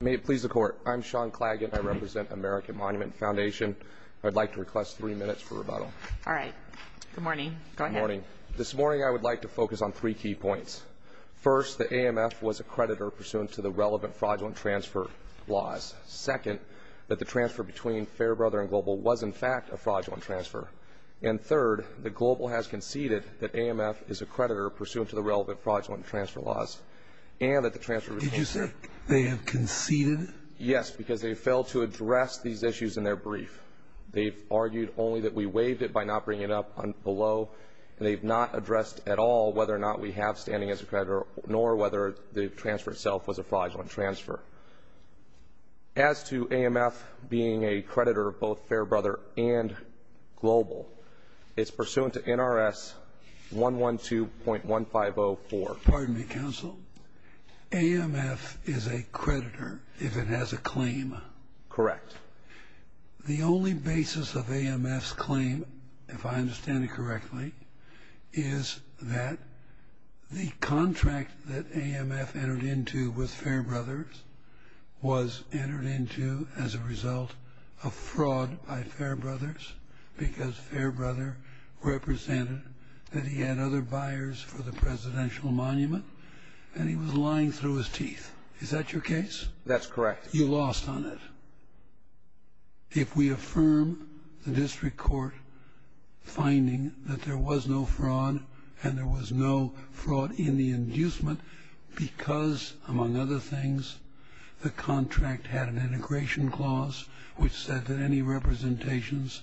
May it please the Court. I'm Sean Claggett. I represent American Monument Foundation. I'd like to request three minutes for rebuttal. All right. Good morning. Go ahead. Good morning. This morning I would like to focus on three key points. First, that AMF was a creditor pursuant to the relevant fraudulent transfer laws. Second, that the transfer between Fairbrother and Global was, in fact, a fraudulent transfer. And third, that Global has conceded that AMF is a creditor pursuant to the relevant fraudulent transfer laws and that the transfer was a fraudulent transfer. Did you say they have conceded? Yes, because they failed to address these issues in their brief. They've argued only that we waived it by not bringing it up below, and they've not addressed at all whether or not we have standing as a creditor nor whether the transfer itself was a fraudulent transfer. As to AMF being a creditor of both Fairbrother and Global, it's pursuant to NRS 112.1504. Pardon me, counsel. AMF is a creditor if it has a claim. Correct. The only basis of AMF's claim, if I understand it correctly, is that the contract that AMF entered into with Fairbrothers was entered into as a result of fraud by Fairbrothers because Fairbrothers represented that he had other buyers for the presidential monument, and he was lying through his teeth. Is that your case? That's correct. You lost on it. If we affirm the district court finding that there was no fraud and there was no fraud in the inducement because, among other things, the contract had an integration clause which said that any representations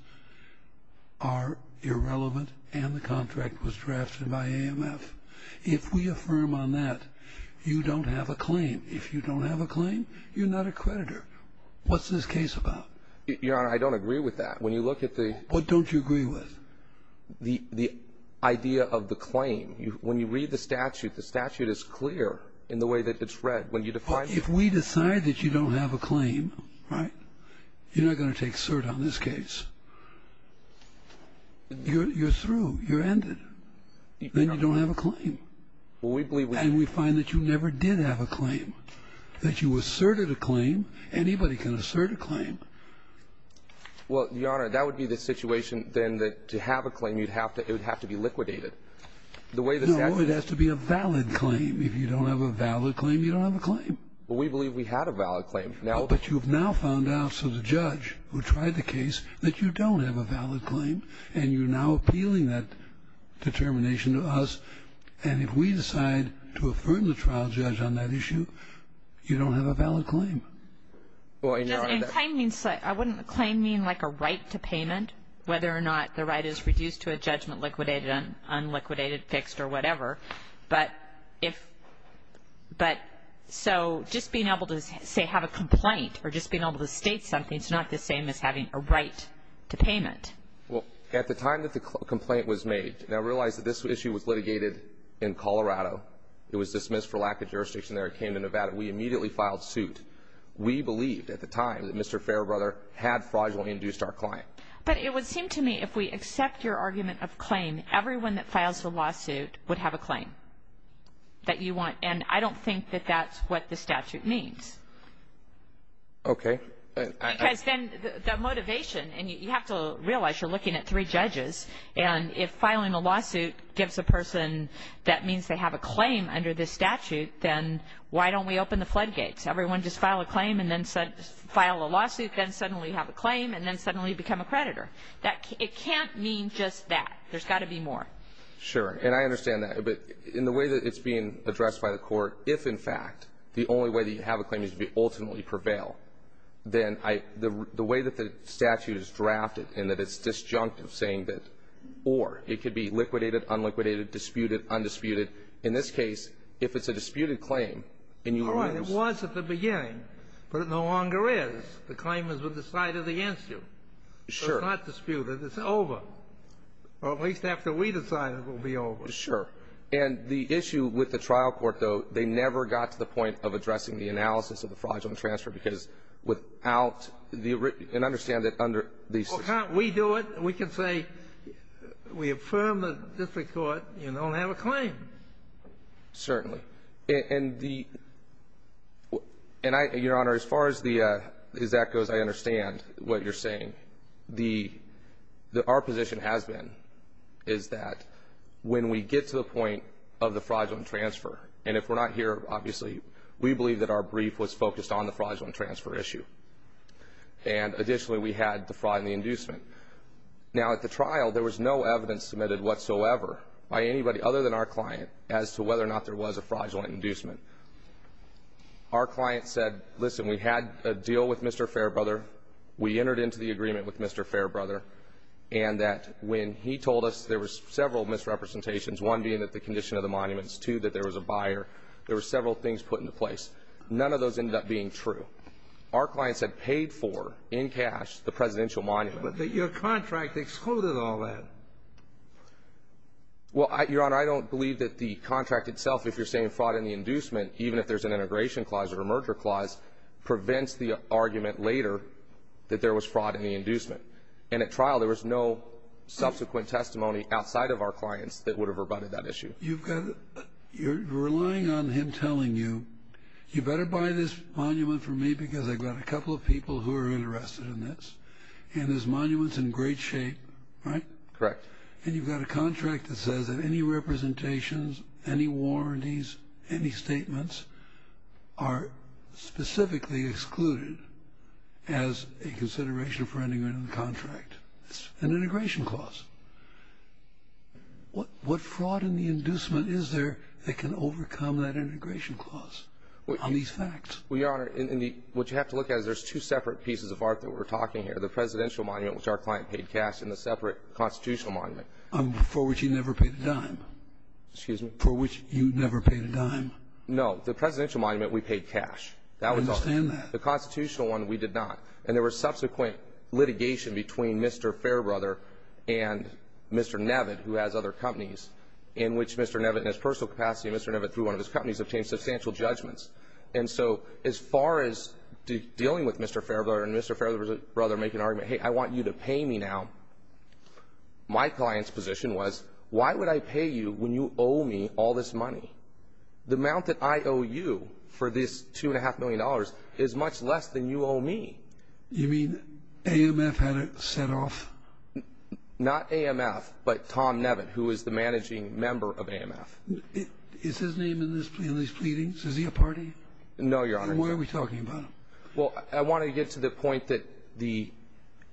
are irrelevant and the contract was drafted by AMF, if we affirm on that, you don't have a claim. If you don't have a claim, you're not a creditor. What's this case about? Your Honor, I don't agree with that. When you look at the idea of the claim, when you read the statute, the statute is clear in the way that it's read. If we decide that you don't have a claim, right, you're not going to take cert on this case. You're through. You're ended. Then you don't have a claim. And we find that you never did have a claim, that you asserted a claim. Anybody can assert a claim. Well, Your Honor, that would be the situation then that to have a claim, it would have to be liquidated. No, it has to be a valid claim. If you don't have a valid claim, you don't have a claim. Well, we believe we had a valid claim. But you've now found out, so the judge who tried the case, that you don't have a valid claim, and you're now appealing that determination to us. And if we decide to affirm the trial judge on that issue, you don't have a valid claim. Well, I know I'm not going to. I wouldn't claim mean like a right to payment, whether or not the right is reduced to a judgment liquidated, unliquidated, fixed, or whatever. But if so, just being able to, say, have a complaint or just being able to state something is not the same as having a right to payment. Well, at the time that the complaint was made, and I realize that this issue was litigated in Colorado. It was dismissed for lack of jurisdiction there. It came to Nevada. We immediately filed suit. We believed at the time that Mr. Fairbrother had fraudulently induced our claim. But it would seem to me if we accept your argument of claim, everyone that files a lawsuit would have a claim that you want. And I don't think that that's what the statute means. Okay. Because then the motivation, and you have to realize you're looking at three judges, and if filing a lawsuit gives a person that means they have a claim under this statute, then why don't we open the floodgates? Everyone just file a claim and then file a lawsuit, then suddenly have a claim, and then suddenly become a creditor. It can't mean just that. There's got to be more. Sure. And I understand that. But in the way that it's being addressed by the Court, if, in fact, the only way that you have a claim is to ultimately prevail, then the way that the statute is drafted and that it's disjunctive saying that or it could be liquidated, unliquidated, disputed, undisputed, in this case, if it's a disputed claim and you lose. All right. It was at the beginning, but it no longer is. The claim has been decided against you. Sure. So it's not disputed. It's over. Or at least after we decide it will be over. Sure. And the issue with the trial court, though, they never got to the point of addressing the analysis of the fraudulent transfer because without the original ---- and understand that under the ---- Well, can't we do it? We can say we affirm the district court, you don't have a claim. Certainly. And the ---- and, Your Honor, as far as that goes, I understand what you're saying. The ---- our position has been is that when we get to the point of the fraudulent transfer, and if we're not here, obviously, we believe that our brief was focused on the fraudulent transfer issue, and additionally we had the fraud and the inducement. Now, at the trial, there was no evidence submitted whatsoever by anybody other than our client as to whether or not there was a fraudulent inducement. Our client said, listen, we had a deal with Mr. Fairbrother. We entered into the agreement with Mr. Fairbrother, and that when he told us there was several misrepresentations, one being that the condition of the monuments, two, that there was a buyer, there were several things put into place. None of those ended up being true. Our clients had paid for, in cash, the presidential monument. But your contract excluded all that. Well, Your Honor, I don't believe that the contract itself, if you're saying fraud and the inducement, even if there's an integration clause or a merger clause, prevents the argument later that there was fraud in the inducement. And at trial, there was no subsequent testimony outside of our clients that would have rebutted that issue. You've got a ---- you're relying on him telling you, you better buy this monument from me because I've got a couple of people who are interested in this, and this monument's in great shape, right? Correct. And you've got a contract that says that any representations, any warranties, any statements are specifically excluded as a consideration for ending a contract. It's an integration clause. What fraud and the inducement is there that can overcome that integration clause on these facts? Well, Your Honor, what you have to look at is there's two separate pieces of art that we're talking here, the presidential monument, which our client paid cash, and the separate constitutional monument. For which you never paid a dime. Excuse me? For which you never paid a dime. No. The presidential monument, we paid cash. I understand that. The constitutional one, we did not. And there was subsequent litigation between Mr. Fairbrother and Mr. Nevitt, who has other companies, in which Mr. Nevitt, in his personal capacity, and Mr. Nevitt, through one of his companies, obtained substantial judgments. And so as far as dealing with Mr. Fairbrother and Mr. Fairbrother making an argument, hey, I want you to pay me now, my client's position was, why would I pay you when you owe me all this money? The amount that I owe you for this $2.5 million is much less than you owe me. You mean AMF had it set off? Not AMF, but Tom Nevitt, who is the managing member of AMF. Is his name in these pleadings? Is he a party? No, Your Honor. Then why are we talking about him? Well, I want to get to the point that the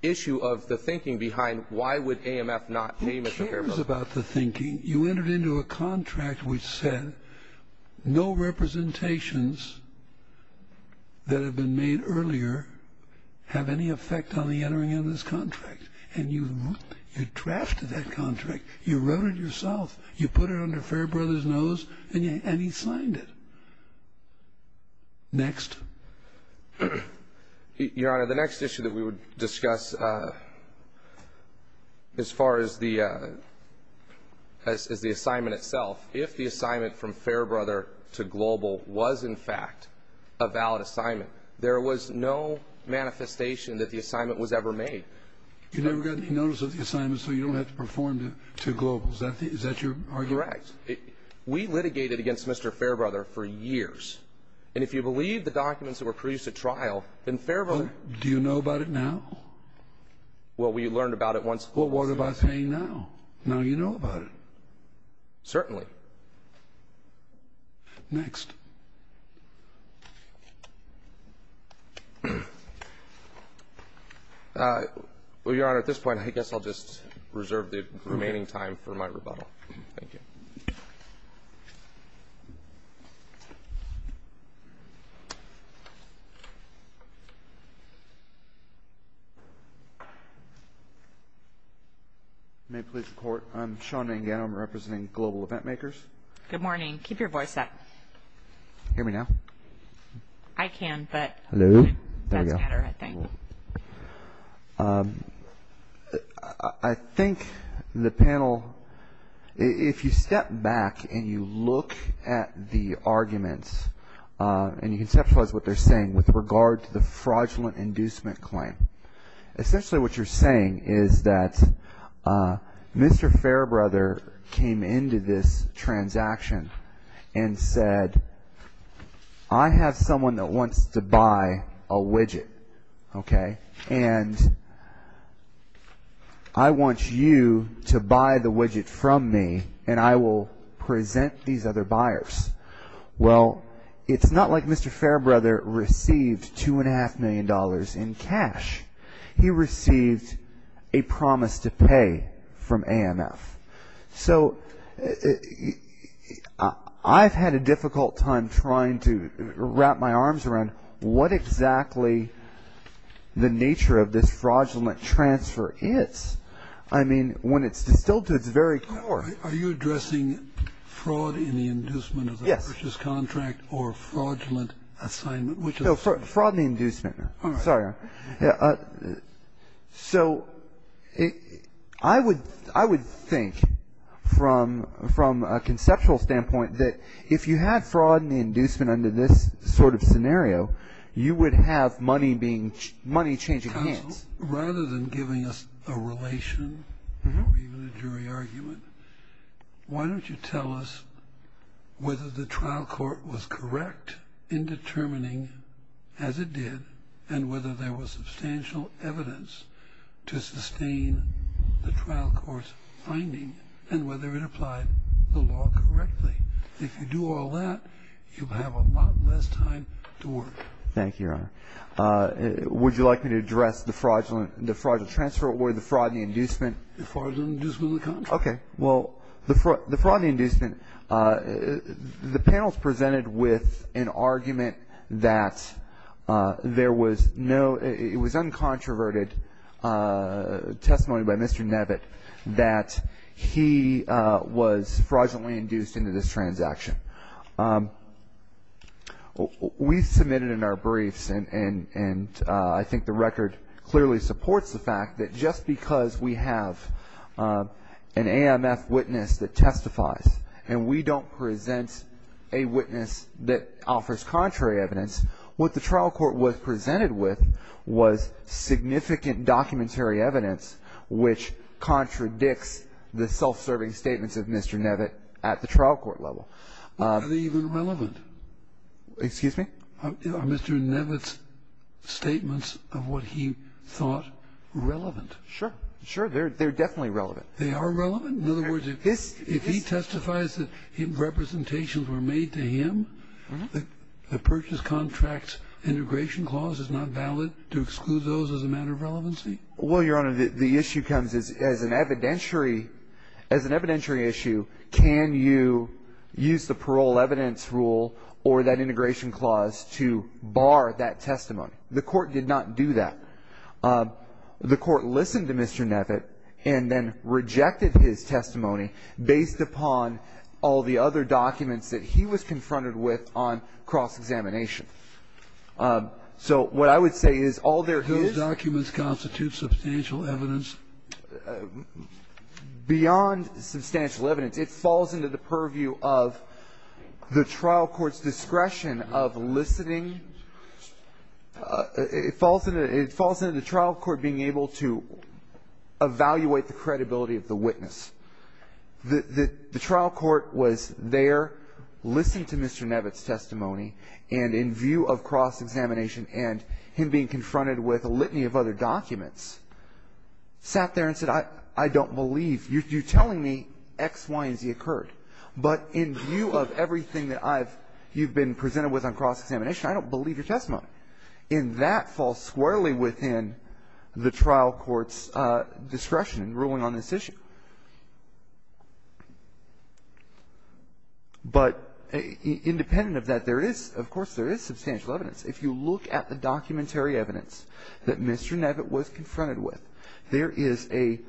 issue of the thinking behind why would AMF not pay Mr. Fairbrother? Who cares about the thinking? You entered into a contract which said no representations that have been made earlier have any effect on the entering into this contract. And you drafted that contract. You wrote it yourself. You put it under Fairbrother's nose, and he signed it. Next. Your Honor, the next issue that we would discuss as far as the assignment itself, if the assignment from Fairbrother to Global was, in fact, a valid assignment, there was no manifestation that the assignment was ever made. You never got any notice of the assignment, so you don't have to perform to Global. Is that your argument? Correct. We litigated against Mr. Fairbrother for years. And if you believe the documents that were produced at trial, then Fairbrother Do you know about it now? Well, we learned about it once. Well, what about saying now? Now you know about it. Certainly. Next. Well, Your Honor, at this point, I guess I'll just reserve the remaining time for my rebuttal. Thank you. May it please the Court, I'm Sean Mangano. I'm representing Global Eventmakers. Good morning. Keep your voice up. Can you hear me now? I can, but that's better, I think. I think the panel, if you step back and you look at the arguments and you conceptualize what they're saying with regard to the fraudulent inducement claim, essentially what you're saying is that Mr. Fairbrother came into this transaction and said, I have someone that wants to buy a widget, okay, and I want you to buy the widget from me and I will present these other buyers. Well, it's not like Mr. Fairbrother received $2.5 million in cash. He received a promise to pay from AMF. So I've had a difficult time trying to wrap my arms around what exactly the nature of this fraudulent transfer is. I mean, when it's distilled to its very core. Are you addressing fraud in the inducement of the purchase contract or fraudulent assignment? No, fraud in the inducement. All right. Sorry, Your Honor. So I would think from a conceptual standpoint that if you had fraud in the inducement under this sort of scenario, you would have money changing hands. Counsel, rather than giving us a relation or even a jury argument, why don't you tell us whether the trial court was correct in determining, as it did, and whether there was substantial evidence to sustain the trial court's finding and whether it applied the law correctly. If you do all that, you'll have a lot less time to work. Thank you, Your Honor. Would you like me to address the fraudulent transfer or the fraud in the inducement? The fraud in the inducement of the contract. Okay. Well, the fraud in the inducement, the panel's presented with an argument that there was no, it was uncontroverted testimony by Mr. Nevitt that he was fraudulently induced into this transaction. We submitted in our briefs, and I think the record clearly supports the fact that just because we have an AMF witness that testifies and we don't present a witness that offers contrary evidence, what the trial court was presented with was significant documentary evidence which contradicts the self-serving statements of Mr. Nevitt at the trial court level. Are they even relevant? Excuse me? Are Mr. Nevitt's statements of what he thought relevant? Sure. Sure, they're definitely relevant. They are relevant? In other words, if he testifies that representations were made to him, the purchase contract integration clause is not valid to exclude those as a matter of relevancy? Well, Your Honor, the issue comes as an evidentiary issue, can you use the parole evidence rule or that integration clause to bar that testimony? The court did not do that. The court listened to Mr. Nevitt and then rejected his testimony based upon all the other documents that he was confronted with on cross-examination. So what I would say is all there is — Do those documents constitute substantial evidence? Beyond substantial evidence, it falls into the purview of the trial court's discretion of listening. It falls into the trial court being able to evaluate the credibility of the witness. The trial court was there, listened to Mr. Nevitt's testimony, and in view of cross-examination and him being confronted with a litany of other documents, sat there and said, I don't believe you're telling me X, Y, and Z occurred. But in view of everything that I've — you've been presented with on cross-examination, I don't believe your testimony. And that falls squarely within the trial court's discretion in ruling on this issue. But independent of that, there is, of course, there is substantial evidence. If you look at the documentary evidence that Mr. Nevitt was confronted with, there is a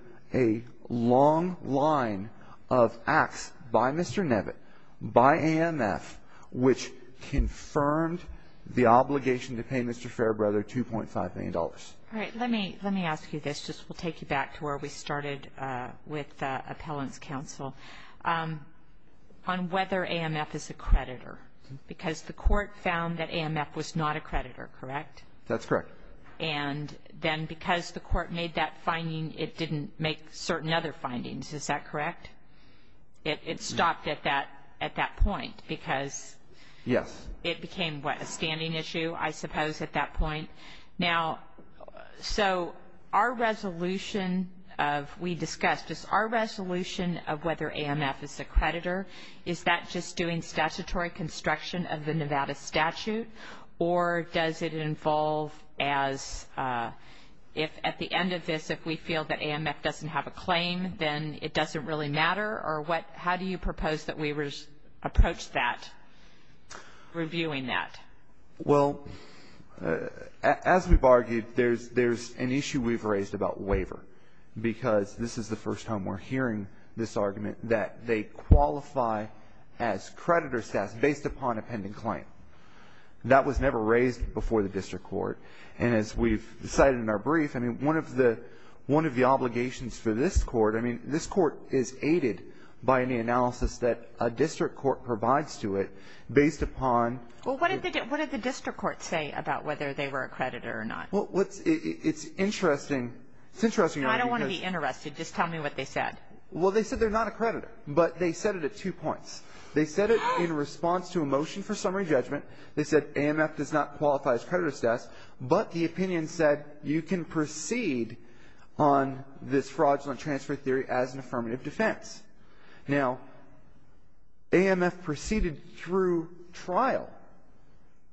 long line of acts by Mr. Nevitt, by AMF, which confirmed the obligation to pay Mr. Fairbrother $2.5 million. All right. Let me ask you this. Just we'll take you back to where we started with Appellant's counsel. On whether AMF is a creditor, because the court found that AMF was not a creditor, correct? That's correct. And then because the court made that finding, it didn't make certain other findings. Is that correct? It stopped at that point because — Yes. It became, what, a standing issue, I suppose, at that point. Now, so our resolution of — we discussed this. Our resolution of whether AMF is a creditor, is that just doing statutory construction of the Nevada statute? Or does it involve as — if at the end of this, if we feel that AMF doesn't have a claim, then it doesn't really matter? Or what — how do you propose that we approach that, reviewing that? Well, as we've argued, there's an issue we've raised about waiver, because this is the first time we're hearing this argument, that they qualify as creditor status based upon a pending claim. That was never raised before the district court. And as we've cited in our brief, I mean, one of the obligations for this court, I mean, this court is aided by any analysis that a district court provides to it based upon — Well, what did the district court say about whether they were a creditor or not? Well, it's interesting. It's interesting — I don't want to be interested. Just tell me what they said. Well, they said they're not a creditor, but they said it at two points. They said it in response to a motion for summary judgment. They said AMF does not qualify as creditor status, but the opinion said you can proceed on this fraudulent transfer theory as an affirmative defense. Now, AMF proceeded through trial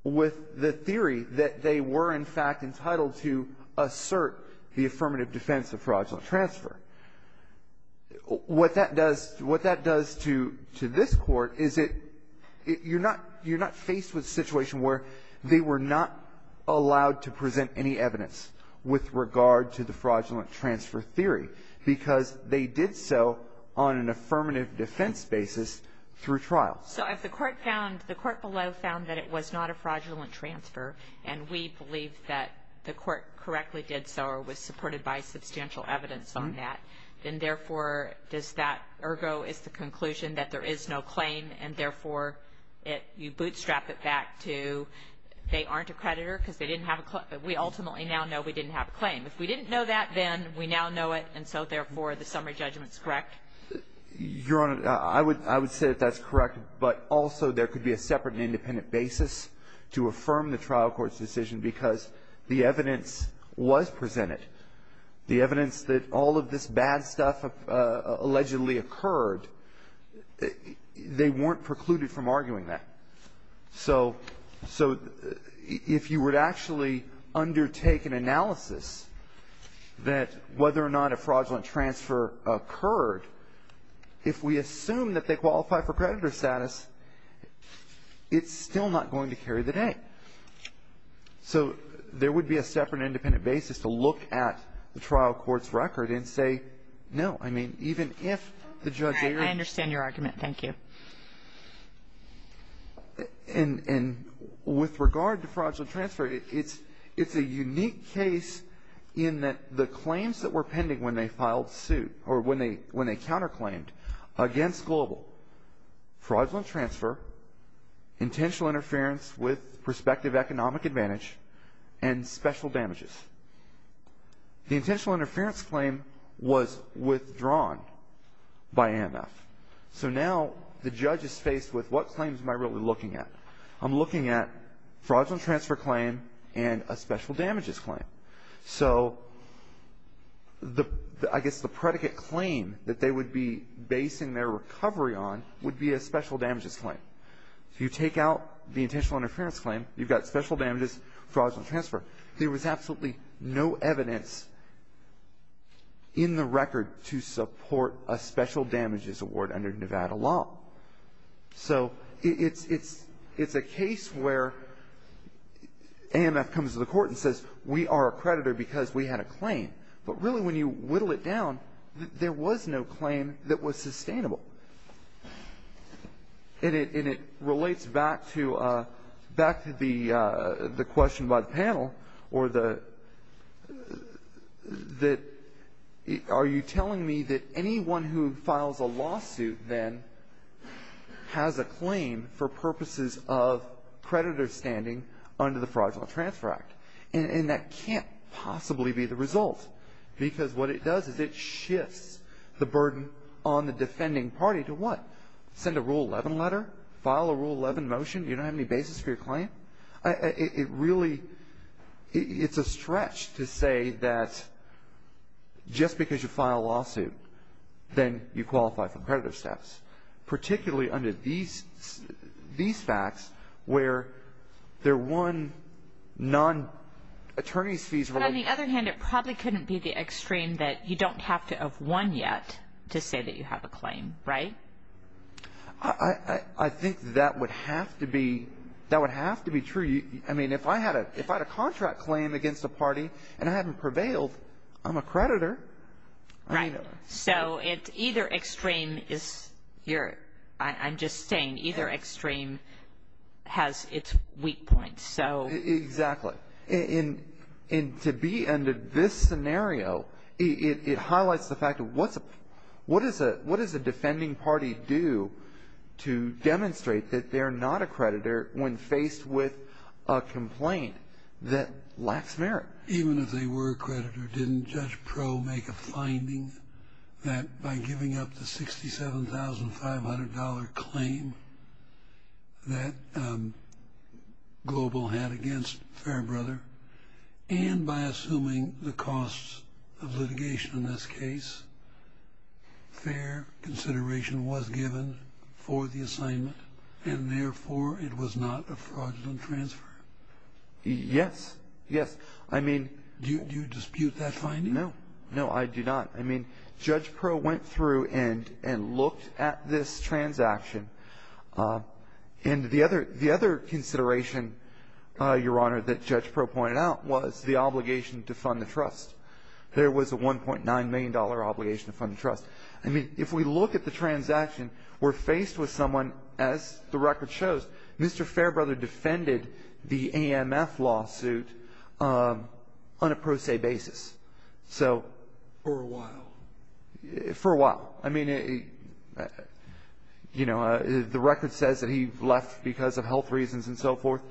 with the theory that they were, in fact, entitled to assert the affirmative defense of fraudulent transfer. What that does to this court is it — you're not faced with a situation where they were not allowed to present any evidence with regard to the fraudulent transfer theory because they did so on an affirmative defense basis through trial. So if the court found — the court below found that it was not a fraudulent transfer, and we believe that the court correctly did so or was supported by substantial evidence on that, then, therefore, does that — ergo, is the conclusion that there is no claim, and, therefore, you bootstrap it back to they aren't a creditor because they didn't have a — we ultimately now know we didn't have a claim. If we didn't know that, then we now know it, and so, therefore, the summary judgment is correct? Your Honor, I would — I would say that that's correct, but also there could be a separate and independent basis to affirm the trial court's decision because the evidence was presented. The evidence that all of this bad stuff allegedly occurred, they weren't precluded from arguing that. So — so if you would actually undertake an analysis that whether or not a fraudulent transfer occurred, if we assume that they qualify for creditor status, it's still not going to carry the day. So there would be a separate and independent basis to look at the trial court's record and say, no, I mean, even if the judge — I understand your argument. Thank you. And — and with regard to fraudulent transfer, it's — it's a unique case in that the claims that were pending when they filed suit — or when they counterclaimed against Global — fraudulent transfer, intentional interference with prospective economic advantage, and special damages. The intentional interference claim was withdrawn by AMF. So now the judge is faced with what claims am I really looking at? I'm looking at fraudulent transfer claim and a special damages claim. So the — I guess the predicate claim that they would be basing their recovery on would be a special damages claim. If you take out the intentional interference claim, you've got special damages, fraudulent transfer. There was absolutely no evidence in the record to support a special damages award under Nevada law. So it's — it's — it's a case where AMF comes to the court and says, we are a creditor because we had a claim. But really, when you whittle it down, there was no claim that was sustainable. And it — and it relates back to — back to the question by the panel or the — that are you has a claim for purposes of creditor standing under the Fraudulent Transfer Act. And that can't possibly be the result because what it does is it shifts the burden on the defending party to what? Send a Rule 11 letter? File a Rule 11 motion? You don't have any basis for your claim? It really — it's a stretch to say that just because you file a lawsuit, then you qualify for creditor steps, particularly under these — these facts, where there are one non-attorney's fees — But on the other hand, it probably couldn't be the extreme that you don't have to have won yet to say that you have a claim, right? I think that would have to be — that would have to be true. I mean, if I had a — if I had a contract claim against a party and I hadn't prevailed, I'm a creditor. Right. So it's either extreme is — you're — I'm just saying either extreme has its weak points. So — Exactly. And to be under this scenario, it highlights the fact of what's a — what does a defending party do to demonstrate that they're not a creditor when faced with a complaint that lacks merit? Even if they were a creditor, didn't Judge Pro make a finding that by giving up the $67,500 claim that Global had against Fairbrother, and by assuming the costs of litigation in this case, fair consideration was given for the assignment, and therefore it was not a fraudulent transfer? Yes. Yes. I mean — Do you dispute that finding? No. No, I do not. I mean, Judge Pro went through and looked at this transaction. And the other consideration, Your Honor, that Judge Pro pointed out was the obligation to fund the trust. There was a $1.9 million obligation to fund the trust. I mean, if we look at the transaction, we're faced with someone, as the record shows, Mr. Fairbrother defended the AMF lawsuit on a pro se basis. So — For a while. For a while. I mean, you know, the record says that he left because of health reasons and so forth.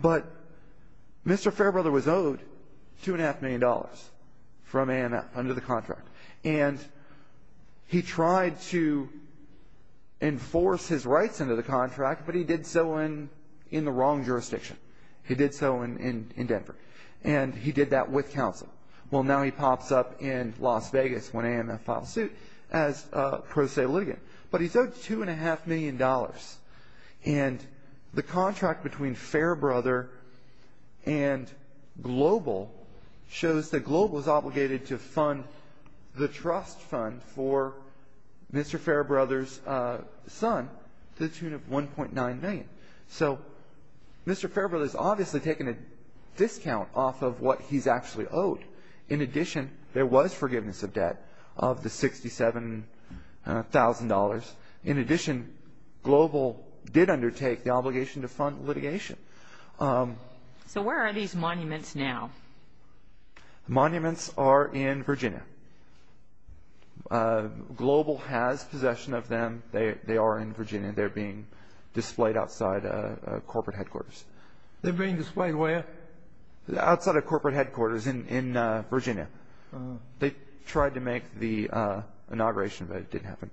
But Mr. Fairbrother was owed $2.5 million from AMF under the contract. And he tried to enforce his rights under the contract, but he did so in the wrong jurisdiction. He did so in Denver. And he did that with counsel. Well, now he pops up in Las Vegas when AMF files suit as pro se litigant. But he's owed $2.5 million. And the contract between Fairbrother and Global shows that Global is obligated to fund the trust fund for Mr. Fairbrother's son to the tune of $1.9 million. So Mr. Fairbrother has obviously taken a discount off of what he's actually owed. In addition, there was forgiveness of debt of the $67,000. In addition, Global did undertake the obligation to fund litigation. So where are these monuments now? Monuments are in Virginia. Global has possession of them. They are in Virginia. They're being displayed outside corporate headquarters. They're being displayed where? Outside of corporate headquarters in Virginia. They tried to make the inauguration, but it didn't happen.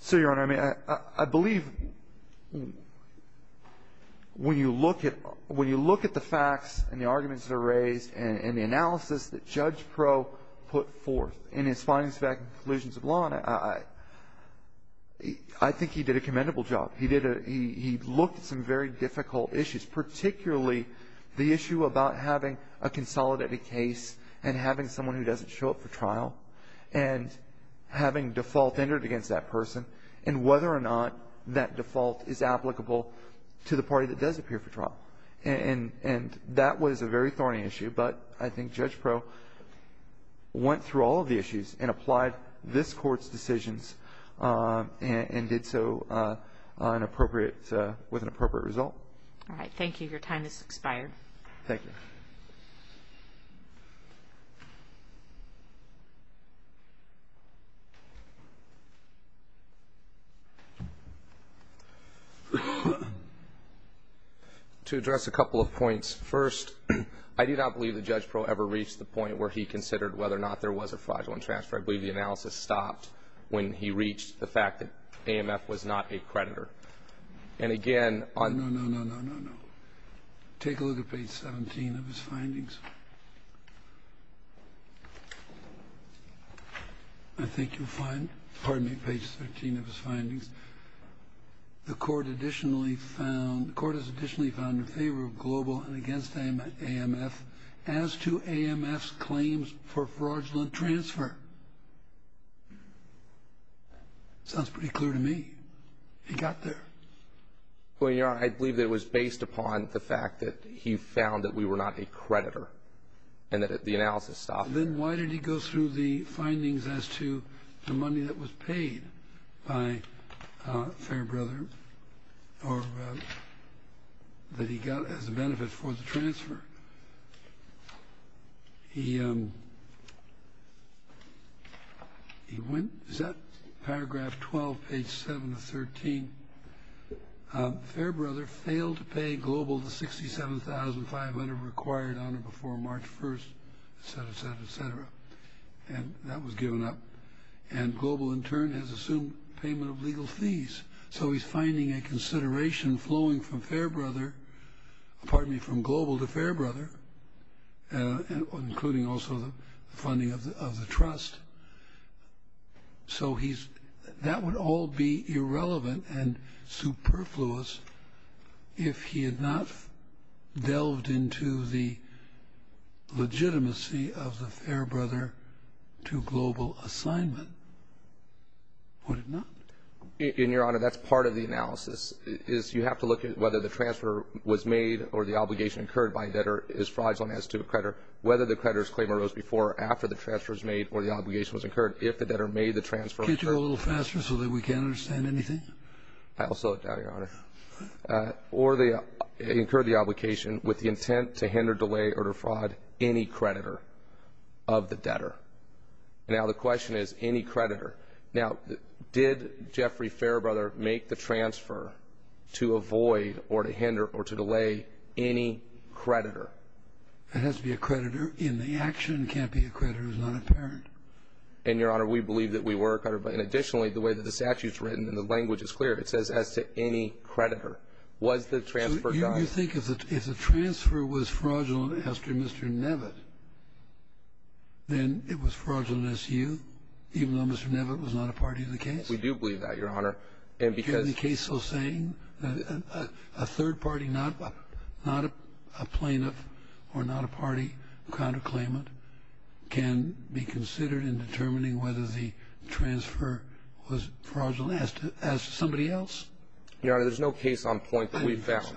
So, Your Honor, I mean, I believe when you look at the facts and the arguments that are raised and the analysis that Judge Pro put forth in his findings, facts, conclusions of law, I think he did a commendable job. He looked at some very difficult issues, particularly the issue about having a consolidated case and having someone who doesn't show up for trial and having default entered against that person and whether or not that default is applicable to the party that does appear for trial. And that was a very thorny issue, but I think Judge Pro went through all of the issues and applied this Court's decisions and did so with an appropriate result. All right. Thank you. Your time has expired. Thank you. To address a couple of points, first, I do not believe that Judge Pro ever reached the point where he considered whether or not there was a fraudulent transfer. I believe the analysis stopped when he reached the fact that AMF was not a creditor. And, again, on... No, no, no, no, no, no. Take a look at page 17 of his findings. I think you'll find, pardon me, page 13 of his findings, the Court has additionally found in favor of global and against AMF as to AMF's claims for fraudulent transfer. Sounds pretty clear to me. He got there. Well, Your Honor, I believe that it was based upon the fact that he found that we were not a creditor and that the analysis stopped. Then why did he go through the findings as to the money that was paid by Fairbrother or that he got as a benefit for the transfer? Is that paragraph 12, page 7 of 13? Fairbrother failed to pay global the $67,500 required on or before March 1st, et cetera, et cetera, et cetera. And that was given up. And global, in turn, has assumed payment of legal fees. So he's finding a consideration flowing from Fairbrother, pardon me, from global to Fairbrother, including also the funding of the trust. So that would all be irrelevant and superfluous if he had not delved into the legitimacy of the Fairbrother to global assignment, would it not? And, Your Honor, that's part of the analysis, is you have to look at whether the transfer was made or the obligation incurred by a debtor is fraudulent as to a creditor, whether the creditor's claim arose before or after the transfer was made or the obligation was incurred if the debtor made the transfer. Could you do it a little faster so that we can understand anything? I'll slow it down, Your Honor. Or they incurred the obligation with the intent to hinder, delay, or defraud any creditor of the debtor. Now, the question is any creditor. Now, did Jeffrey Fairbrother make the transfer to avoid or to hinder or to delay any creditor? It has to be a creditor in the action. It can't be a creditor who's not a parent. And, Your Honor, we believe that we were a creditor. But additionally, the way that the statute's written and the language is clear, it says as to any creditor. Was the transfer done? So you think if the transfer was fraudulent as to Mr. Nevitt, then it was fraudulent as to you, even though Mr. Nevitt was not a party to the case? We do believe that, Your Honor. And because the case was saying that a third party, not a plaintiff or not a party to counterclaim it, can be considered in determining whether the transfer was fraudulent as to somebody else? Your Honor, there's no case on point that we found.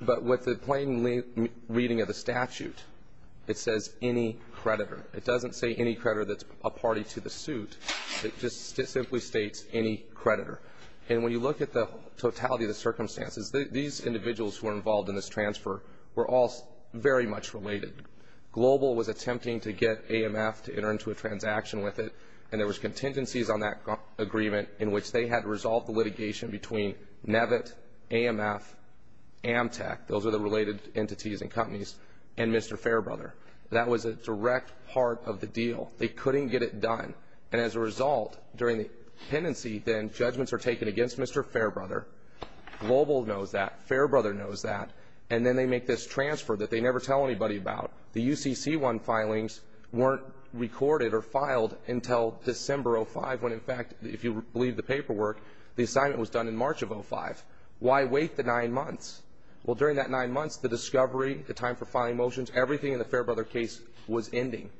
But with the plain reading of the statute, it says any creditor. It doesn't say any creditor that's a party to the suit. It just simply states any creditor. And when you look at the totality of the circumstances, these individuals who were involved in this transfer were all very much related. Global was attempting to get AMF to enter into a transaction with it, and there was contingencies on that agreement in which they had to resolve the litigation between Nevitt, AMF, Amtec, those are the related entities and companies, and Mr. Fairbrother. That was a direct part of the deal. They couldn't get it done. And as a result, during the pendency, then, judgments are taken against Mr. Fairbrother. Global knows that. Fairbrother knows that. And then they make this transfer that they never tell anybody about. The UCC-1 filings weren't recorded or filed until December of 2005, when, in fact, if you believe the paperwork, the assignment was done in March of 2005. Why wait the nine months? Well, during that nine months, the discovery, the time for filing motions, everything in the Fairbrother case was ending.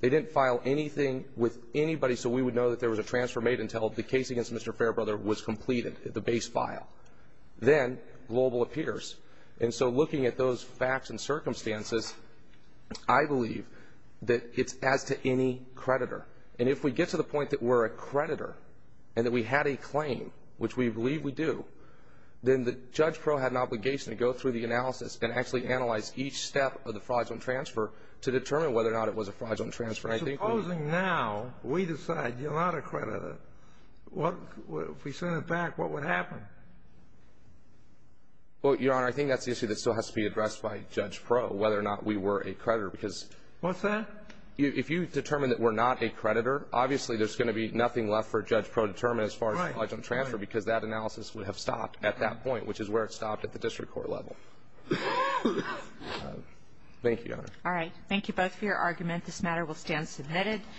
They didn't file anything with anybody so we would know that there was a transfer made until the case against Mr. Fairbrother was completed, the base file. Then Global appears. And so looking at those facts and circumstances, I believe that it's as to any creditor. And if we get to the point that we're a creditor and that we had a claim, which we believe we do, then the judge pro had an obligation to go through the analysis and actually analyze each step of the fraudulent transfer to determine whether or not it was a fraudulent transfer. Supposing now we decide you're not a creditor. If we send it back, what would happen? Well, Your Honor, I think that's the issue that still has to be addressed by Judge Pro, whether or not we were a creditor. What's that? If you determine that we're not a creditor, obviously there's going to be nothing left for Judge Pro to determine as far as fraudulent transfer because that analysis would have stopped at that point, which is where it stopped at the district court level. Thank you, Your Honor. All right. Thank you both for your argument. This matter will stand submitted.